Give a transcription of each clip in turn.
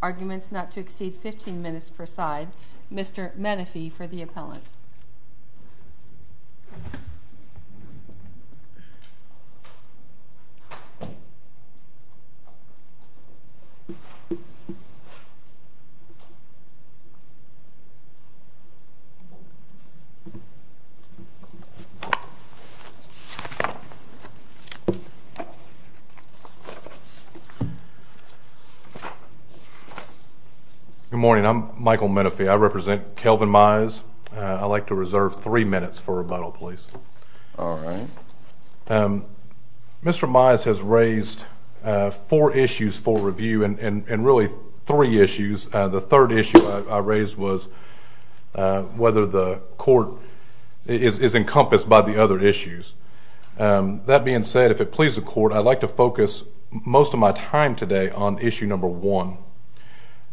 Arguments not to exceed 15 minutes per side. Mr. Menefee for the appellant. Good morning. I'm Michael Menefee. I represent Kelvin Mize. I'd like to reserve three minutes for rebuttal please. Mr. Mize has raised four issues for review and really three issues. The third issue I raised was whether the court is encompassed by the other issues. That being said, if it pleases the court, I'd like to focus most of my time today on issue number one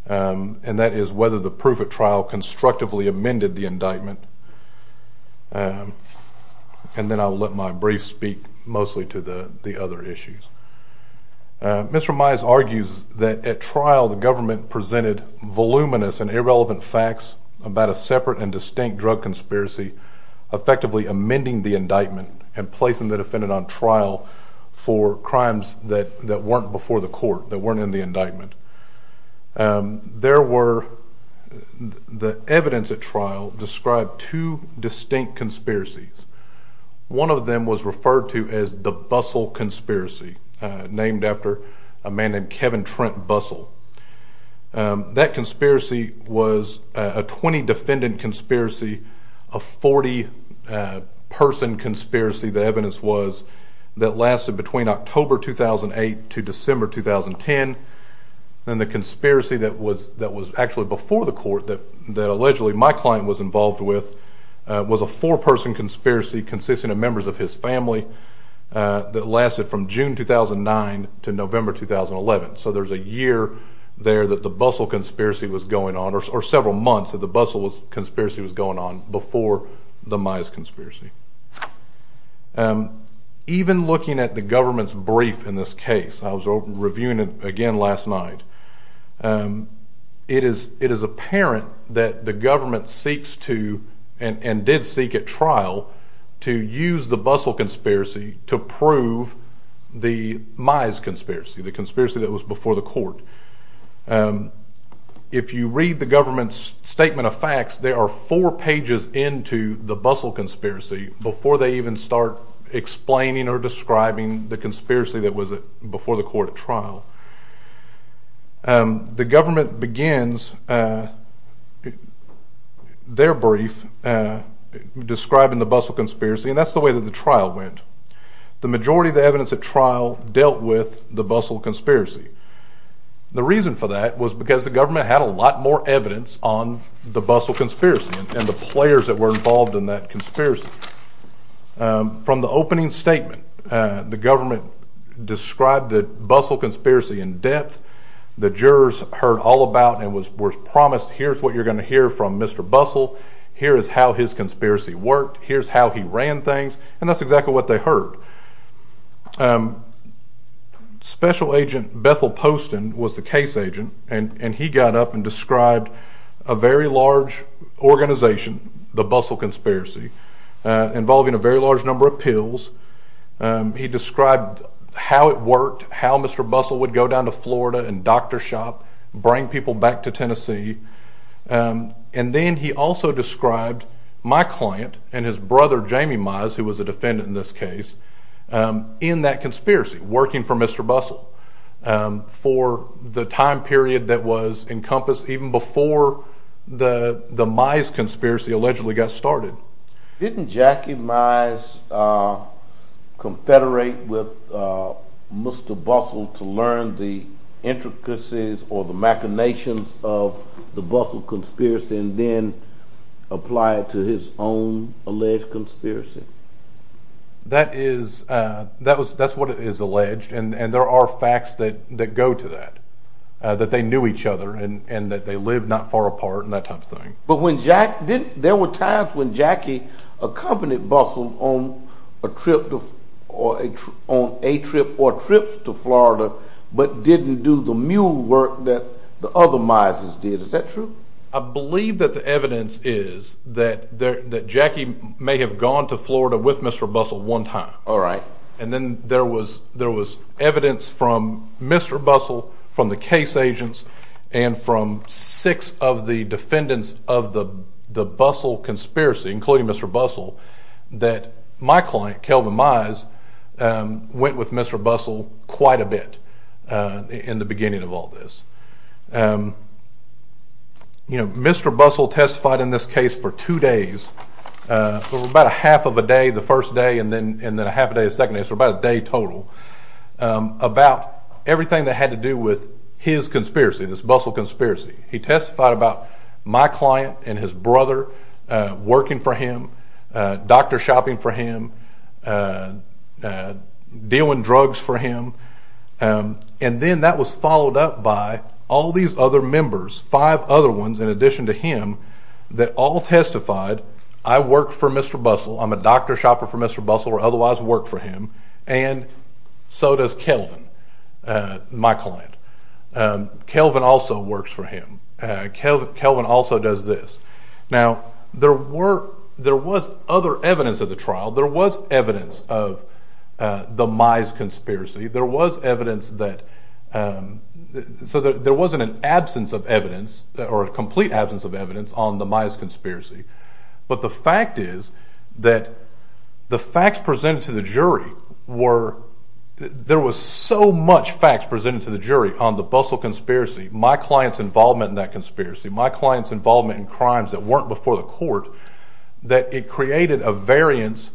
and that is whether the proof at trial constructively amended the indictment. And then I'll let my brief speak mostly to the other issues. Mr. Mize argues that at trial the government presented voluminous and irrelevant facts about a separate and distinct drug conspiracy effectively amending the indictment and placing the defendant on trial for crimes that weren't before the court, that weren't in the indictment. There were, the evidence at trial described two distinct conspiracies. One of them was referred to as the Bustle Conspiracy, named after a man named Kevin Trent Bustle. That conspiracy was a 20 defendant conspiracy, a 40 person conspiracy, the evidence was, that lasted between October 2008 to December 2010. And the conspiracy that was actually before the court, that allegedly my client was involved with, was a four person conspiracy consisting of members of his family that lasted from June 2009 to November 2011. So there's a year there that the Bustle Conspiracy was going on, or several months that the Bustle Conspiracy was going on before the Mize Conspiracy. Even looking at the government's brief in this case, I was reviewing it again last night, it is apparent that the government seeks to, and did seek at trial, to use the Bustle Conspiracy to prove the Mize Conspiracy, the conspiracy that was before the court. If you read the government's statement of facts, there are four pages into the Bustle Conspiracy before they even start explaining or describing the conspiracy that was before the court at trial. The government begins their brief describing the Bustle Conspiracy, and that's the way the majority of the trial went. The majority of the evidence at trial dealt with the Bustle Conspiracy. The reason for that was because the government had a lot more evidence on the Bustle Conspiracy and the players that were involved in that conspiracy. From the opening statement, the government described the Bustle Conspiracy in depth, the jurors heard all about and were promised, here's what you're going to hear from Mr. Bustle, here is how his conspiracy worked, here's how he ran things, and that's exactly what they heard. Special Agent Bethel Poston was the case agent, and he got up and described a very large organization, the Bustle Conspiracy, involving a very large number of pills. He described how it worked, how Mr. Bustle would go down to Florida and doctor shop, bring people back to Tennessee, and then he also described my client and his brother Jamie Mize, who was a defendant in this case, in that conspiracy, working for Mr. Bustle, for the time period that was encompassed even before the Mize conspiracy allegedly got started. Didn't Jackie Mize confederate with Mr. Bustle to learn the intricacies or the machinations of the Bustle Conspiracy and then apply it to his own alleged conspiracy? That is, that's what is alleged and there are facts that go to that, that they knew each other and that they lived not far apart and that type of thing. But there were times when Jackie accompanied Bustle on a trip or trips to Florida but didn't do the mule work that the other Mizes did. Is that true? I believe that the evidence is that Jackie may have gone to Florida with Mr. Bustle one time. And then there was evidence from Mr. Bustle, from the case agents, and from six of the defendants of the Bustle Conspiracy, including Mr. Bustle, that my client, Kelvin Mize, went with Mr. Bustle quite a bit in the beginning of all this. Mr. Bustle testified in this case for two days, for about a half of a day the first day and then a half a day the second day, so about a day total, about everything that I know about my client and his brother, working for him, doctor shopping for him, dealing drugs for him, and then that was followed up by all these other members, five other ones in addition to him, that all testified, I work for Mr. Bustle, I'm a doctor shopper for Mr. Bustle or otherwise work for him, and so does Kelvin, my client. Kelvin also works for him. Kelvin also does this. Now, there were, there was other evidence of the trial, there was evidence of the Mize Conspiracy, there was evidence that, so there wasn't an absence of evidence, or a complete absence of evidence on the Mize Conspiracy, but the fact is that the facts presented to the jury were, there was so much facts presented to the jury on the Bustle Conspiracy, my client's involvement in that conspiracy, my client's involvement in crimes that weren't before the court, that it created a variance,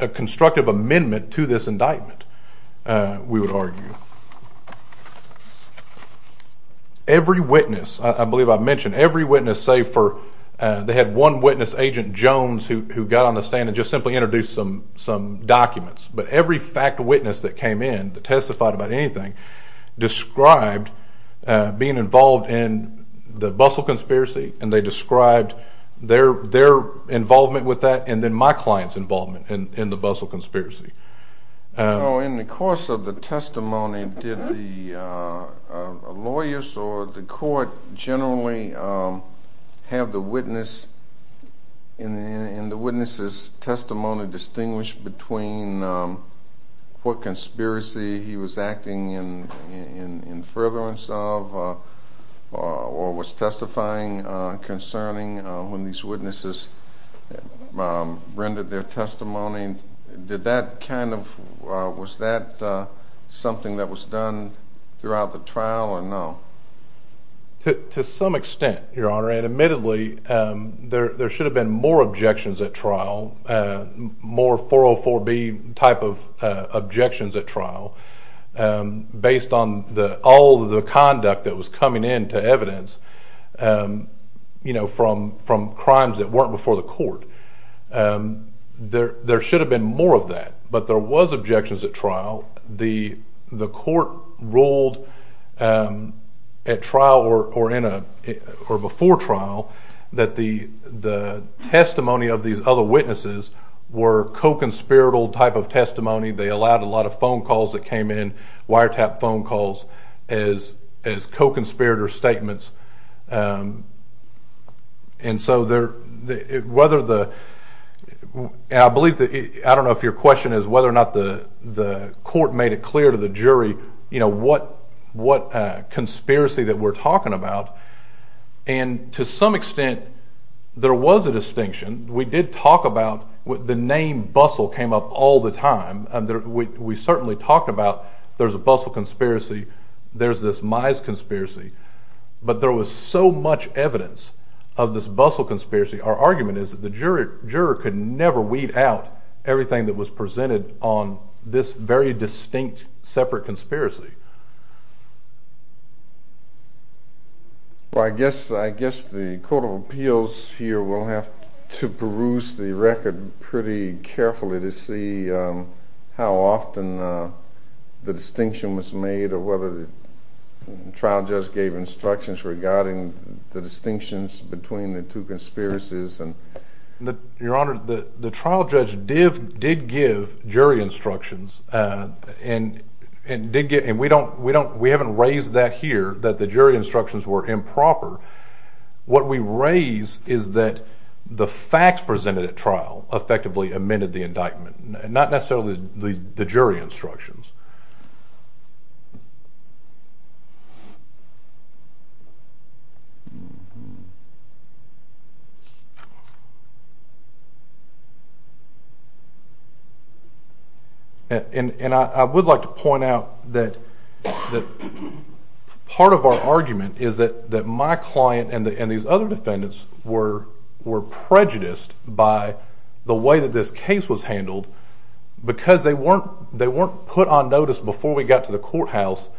a constructive amendment to this indictment, we would argue. Every witness, I believe I mentioned, every witness save for, they had one witness, Agent Jones, who got on the stand and just simply introduced some documents, but every fact witness that came in, that testified about anything, described being involved in the Bustle Conspiracy, and they described their involvement with that, and then my client's involvement in the Bustle Conspiracy. Now, in the course of the testimony, did the lawyers or the court generally have the witness and the witness's testimony distinguish between what conspiracy he was acting in furtherance of or was testifying concerning when these witnesses rendered their testimony? Did that kind of, was that something that was done throughout the trial or no? To some extent, Your Honor, and admittedly, there should have been more objections at trial, more 404B type of objections at trial, based on all of the conduct that was coming in to evidence, you know, from crimes that weren't before the court. There should have been more of that, but there was objections at trial. The court ruled at trial or before trial that the testimony of these other witnesses were co-conspirator type of testimony. They allowed a lot of phone calls that came in, wiretap phone calls as co-conspirator statements, and so whether the, and I believe, I don't know if your question is whether or not the court made it clear to the jury, you know, what conspiracy that we're talking about, and to some extent, there was a distinction. We did talk about, the name Bustle came up all the time. We certainly talked about there's a Bustle conspiracy, there's this Mize conspiracy, but there was so much evidence of this Bustle conspiracy. Our argument is that the juror could never weed out everything that was presented on this very distinct separate conspiracy. Well, I guess the Court of Appeals here will have to peruse the record pretty carefully to see how often the distinction was made or whether the trial just gave instructions regarding the distinctions between the two conspiracies. Your Honor, the trial judge did give jury instructions, and we haven't raised that here, that the jury instructions were improper. What we raise is that the facts presented at trial effectively amended the indictment, not necessarily the jury instructions. And I would like to point out that part of our argument is that my client and these other defendants were prejudiced by the way that this case was handled because they weren't put on notice before we got to the courthouse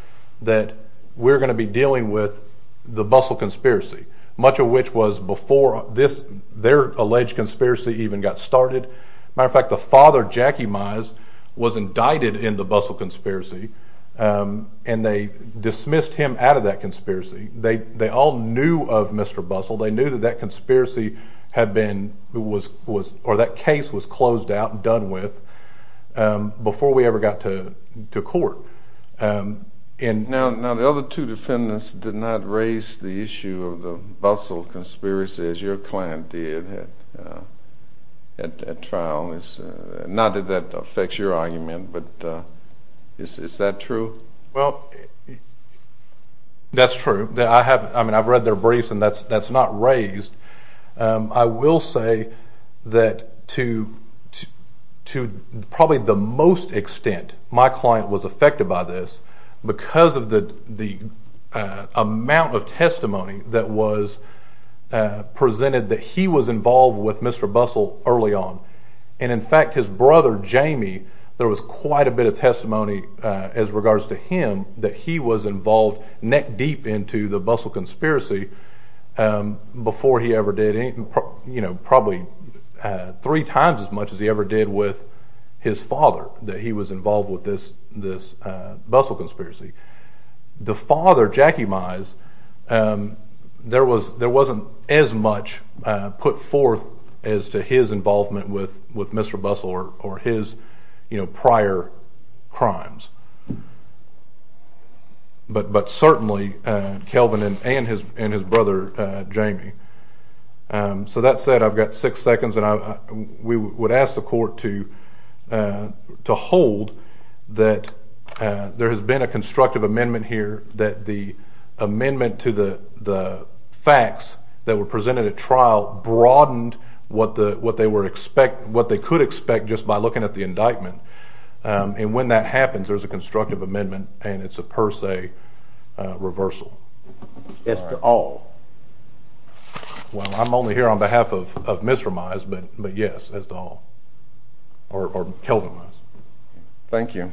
that we're going to be dealing with the Bustle conspiracy, much of which was before their alleged conspiracy even got started. As a matter of fact, the father, Jackie Mize, was indicted in the Bustle conspiracy, and they dismissed him out of that conspiracy. They all knew of Mr. Bustle. They knew that that conspiracy had been, or that case was closed out and done with before we ever got to court. Now, the other two defendants did not raise the issue of the Bustle conspiracy as your client did at trial. Not that that affects your argument, but is that true? Well, that's true. I mean, I've read their briefs, and that's not raised. I will say that to probably the most extent, my client was affected by this because of the amount of testimony that was presented that he was involved with Mr. Bustle early on. In fact, his brother, Jamie, there was quite a bit of testimony as regards to him that he was involved neck deep into the Bustle conspiracy before he ever did anything, probably three times as much as he ever did with his father, that he was involved with this Bustle conspiracy. The father, Jackie Mize, there wasn't as much put forth as to his involvement with Mr. Bustle or his prior crimes. But certainly, Kelvin and his brother, Jamie. So that said, I've got six seconds, and we would ask the court to hold that there has been a constructive amendment here that the amendment to the facts that were presented at trial broadened what they could expect just by looking at the indictment. And when that happens, there's a constructive amendment, and it's a per se reversal. As to all? Well, I'm only here on behalf of Mr. Mize, but yes, as to all, or Kelvin Mize. Thank you.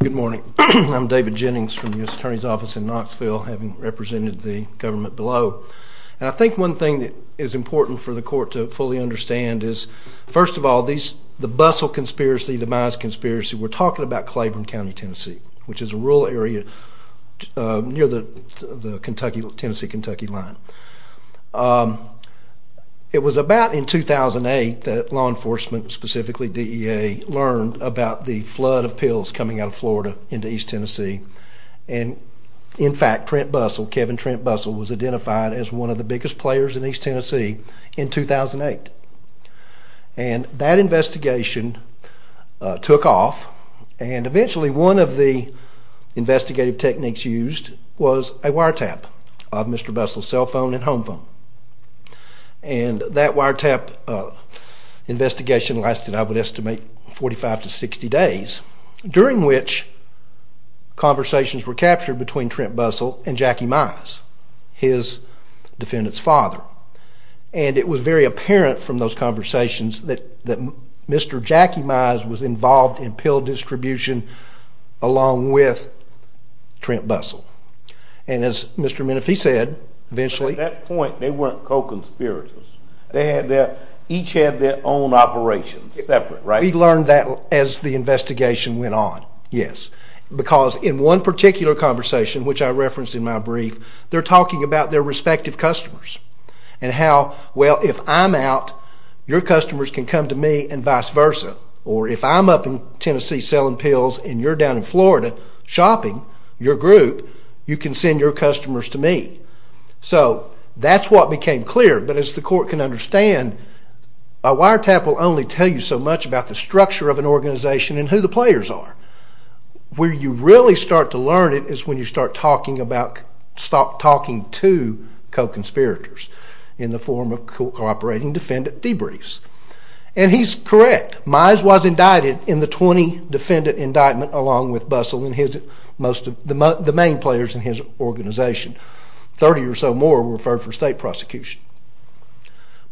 Good morning. I'm David Jennings from the U.S. Attorney's Office in Knoxville, having represented the government below. And I think one thing that is important for the court to fully understand is, first of all, the Bustle conspiracy, the Mize conspiracy, we're talking about Claiborne County, Tennessee, which is a rural area near the Tennessee-Kentucky line. It was about in 2008 that law enforcement, specifically DEA, learned about the flood of pills coming out of Florida into East Tennessee. And, in fact, Trent Bustle, Kevin Trent Bustle, was identified as one of the biggest players in East Tennessee in 2008. And that investigation took off, and eventually one of the investigative techniques used was a wiretap of Mr. Bustle's cell phone and home phone. And that wiretap investigation lasted, I would estimate, 45 to 60 days, during which conversations were captured between Trent Bustle and Jackie Mize, his defendant's father. And it was very apparent from those conversations that Mr. Jackie Mize was involved in pill distribution along with Trent Bustle. And, as Mr. Menefee said, eventually... At that point, they weren't co-conspirators. They each had their own operations. Separate, right? We learned that as the investigation went on, yes. Because in one particular conversation, which I referenced in my brief, they're talking about their respective customers and how, well, if I'm out, your customers can come to me and vice versa. Or, if I'm up in Tennessee selling pills and you're down in Florida shopping, your group, you can send your customers to me. So, that's what became clear. But as the court can understand, a wiretap will only tell you so much about the structure of an organization and who the players are. Where you really start to learn it is when you start talking to co-conspirators in the form of cooperating defendant debriefs. And he's correct. Mize was indicted in the 20 defendant indictment along with Bustle and most of the main players in his organization. Thirty or so more were referred for state prosecution.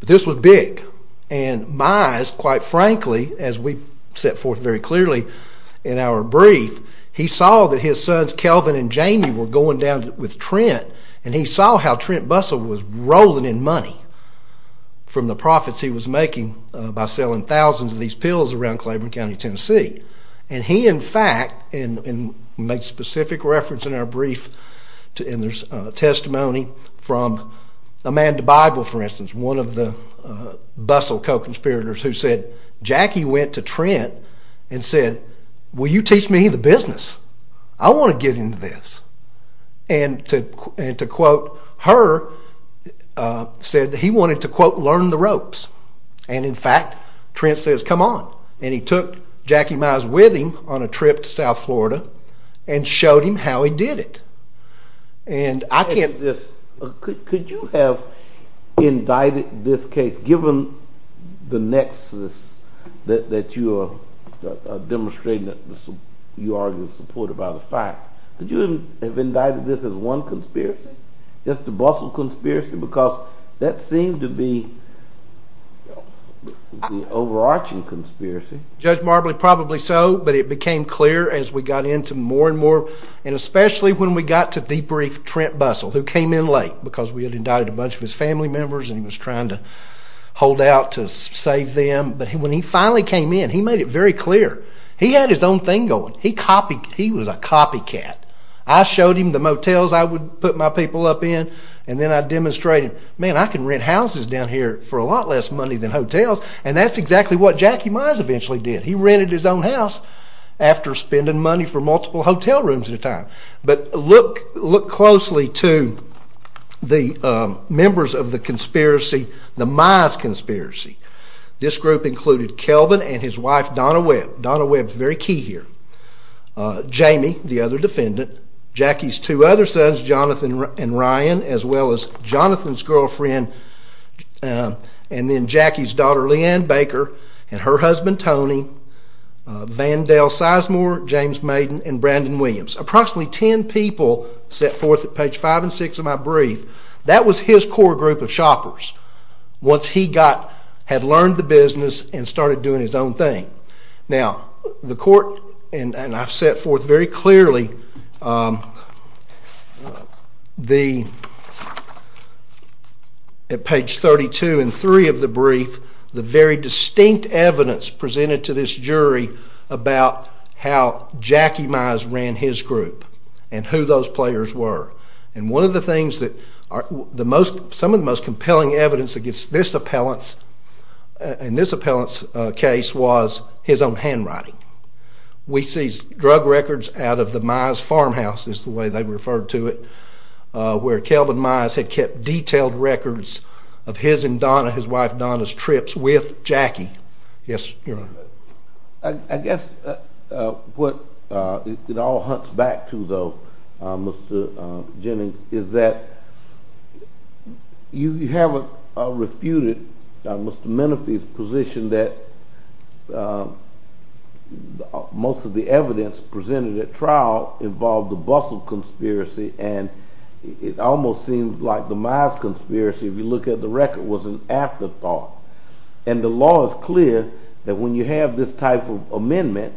But this was big. And Mize, quite frankly, as we set forth very clearly in our brief, he saw that his sons Kelvin and Jamie were going down with Trent and he saw how Trent Bustle was rolling in from the profits he was making by selling thousands of these pills around Claiborne County, Tennessee. And he, in fact, and we make specific reference in our brief and there's testimony from Amanda Bible, for instance, one of the Bustle co-conspirators who said, Jackie went to Trent and said, will you teach me the business? I want to get into this. And to quote her, said that he wanted to quote, learn the ropes. And in fact, Trent says, come on. And he took Jackie Mize with him on a trip to South Florida and showed him how he did it. And I can't... Could you have indicted this case, given the nexus that you are demonstrating that you are supportive of the fact. Could you have indicted this as one conspiracy? Just the Bustle conspiracy? Because that seemed to be the overarching conspiracy. Judge Marbley, probably so. But it became clear as we got into more and more, and especially when we got to debrief Trent Bustle, who came in late because we had indicted a bunch of his family members and he was trying to hold out to save them. But when he finally came in, he made it very clear. He had his own thing going. He copied... He was a copycat. I showed him the motels I would put my people up in, and then I demonstrated, man, I can rent houses down here for a lot less money than hotels. And that's exactly what Jackie Mize eventually did. He rented his own house after spending money for multiple hotel rooms at a time. But look closely to the members of the conspiracy, the Mize conspiracy. This group included Kelvin and his wife Donna Webb. Donna Webb is very key here. Jamie, the other defendant. Jackie's two other sons, Jonathan and Ryan, as well as Jonathan's girlfriend and then Jackie's daughter, Leanne Baker, and her husband, Tony. Vandale Sizemore, James Maiden, and Brandon Williams. Approximately ten people set forth at page five and six of my brief. That was his core group of shoppers once he had learned the business and started doing his own thing. Now, the court, and I've set forth very clearly, at page 32 and 3 of the brief, the very distinct evidence presented to this jury about how Jackie Mize ran his group and who those players were. And one of the things that are the most, some of the most compelling evidence against this appellant's case was his own handwriting. We seized drug records out of the Mize farmhouse, is the way they referred to it, where Kelvin Mize had kept detailed records of his and Donna, his wife Donna's trips with Jackie. Yes, Your Honor. I guess what it all hunts back to, though, Mr. Jennings, is that you haven't refuted Mr. Menefee's position that most of the evidence presented at trial involved the Bustle conspiracy, and it almost seems like the Mize conspiracy, if you look at the record, was an afterthought. And the law is clear that when you have this type of amendment,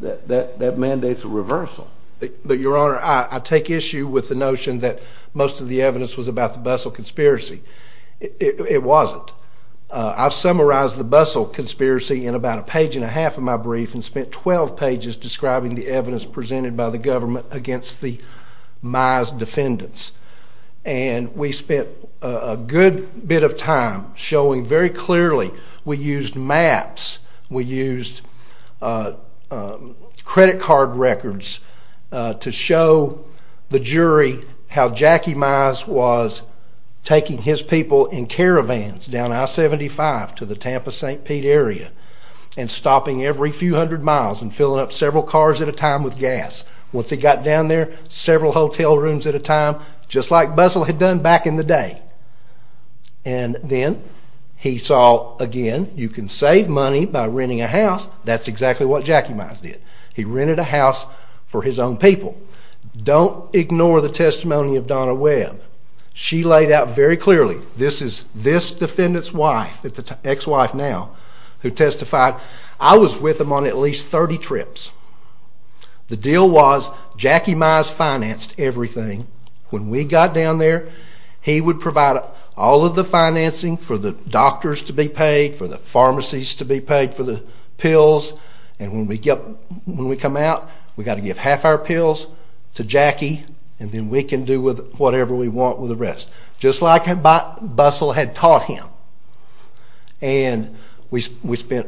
that mandates a reversal. But, Your Honor, I take issue with the notion that most of the evidence was about the Bustle conspiracy. It wasn't. I've summarized the Bustle conspiracy in about a page and a half of my brief and spent 12 pages describing the evidence presented by the government against the Mize defendants. And we spent a good bit of time showing very clearly we used maps, we used credit card records to show the jury how Jackie Mize was taking his people in caravans down I-75 to the Tampa-St. Pete area and stopping every few hundred miles and filling up several cars at a time with gas. Once he got down there, several hotel rooms at a time, just like Bustle had done back in the day. And then he saw, again, you can save money by renting a house. That's exactly what Jackie Mize did. He rented a house for his own people. Don't ignore the testimony of Donna Webb. She laid out very clearly, this defendant's wife, ex-wife now, who testified, I was with him on at least 30 trips. The deal was Jackie Mize financed everything. When we got down there, he would provide all of the financing for the doctors to be paid, for the pharmacies to be paid for the pills. And when we come out, we've got to give half our pills to Jackie and then we can do whatever we want with the rest, just like Bustle had taught him. And we spent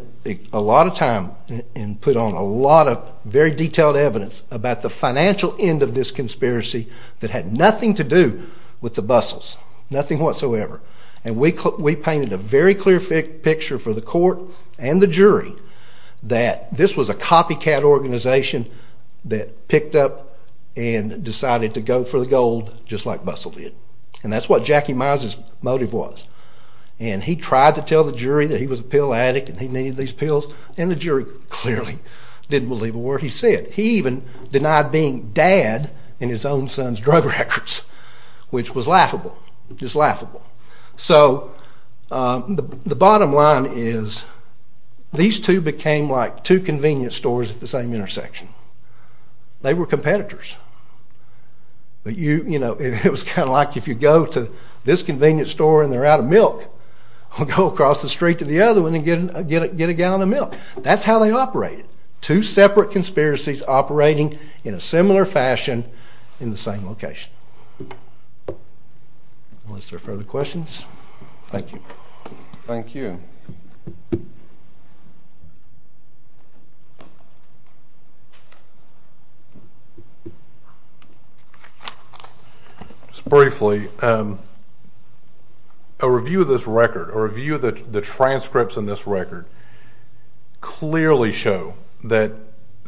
a lot of time and put on a lot of very detailed evidence about the financial end of this conspiracy that had nothing to do with the Bustles, nothing whatsoever. And we painted a very clear picture for the court and the jury that this was a copycat organization that picked up and decided to go for the gold, just like Bustle did. And that's what Jackie Mize's motive was. And he tried to tell the jury that he was a pill addict and he needed these pills, and the jury clearly didn't believe a word he said. He even denied being dad in his own son's drug records, which was laughable, just laughable. So the bottom line is these two became like two convenience stores at the same intersection. They were competitors. It was kind of like if you go to this convenience store and they're out of milk, go across the street to the other one and get a gallon of milk. That's how they operated. Two separate conspiracies operating in a similar fashion in the same location. Unless there are further questions. Thank you. Thank you. Just briefly, a review of this record, a review of the transcripts in this record, clearly show that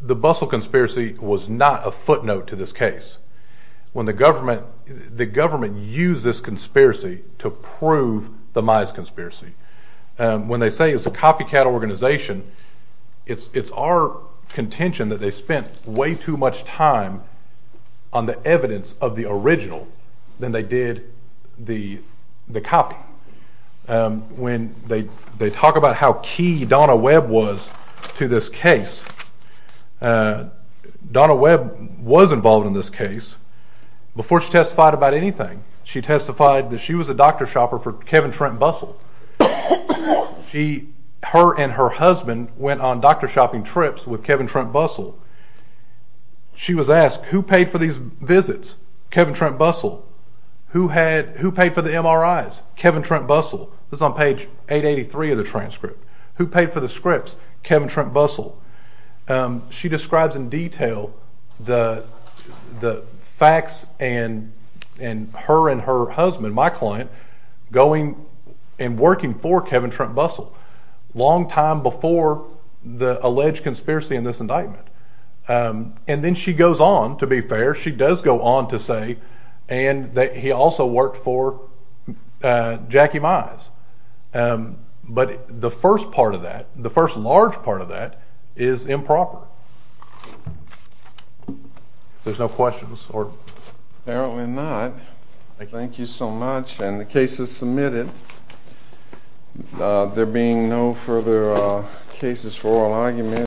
the Bustle conspiracy was not a footnote to this case. The government used this conspiracy to prove the Mize conspiracy. When they say it's a copycat organization, it's our contention that they spent way too much time on the evidence of the original than they did the copy. When they talk about how key Donna Webb was to this case, Donna Webb was involved in this case. Before she testified about anything, she testified that she was a doctor shopper for Kevin Trent Bustle. Her and her husband went on doctor shopping trips with Kevin Trent Bustle. She was asked, who paid for these visits? Kevin Trent Bustle. Who paid for the MRIs? Kevin Trent Bustle. This is on page 883 of the transcript. Who paid for the scripts? Kevin Trent Bustle. She describes in detail the facts and her and her husband, my client, going and working for Kevin Trent Bustle, a long time before the alleged conspiracy in this indictment. Then she goes on, to be fair. She does go on to say that he also worked for Jackie Mize. But the first part of that, the first large part of that, is improper. If there's no questions. Apparently not. Thank you so much. And the case is submitted. There being no further cases for oral argument.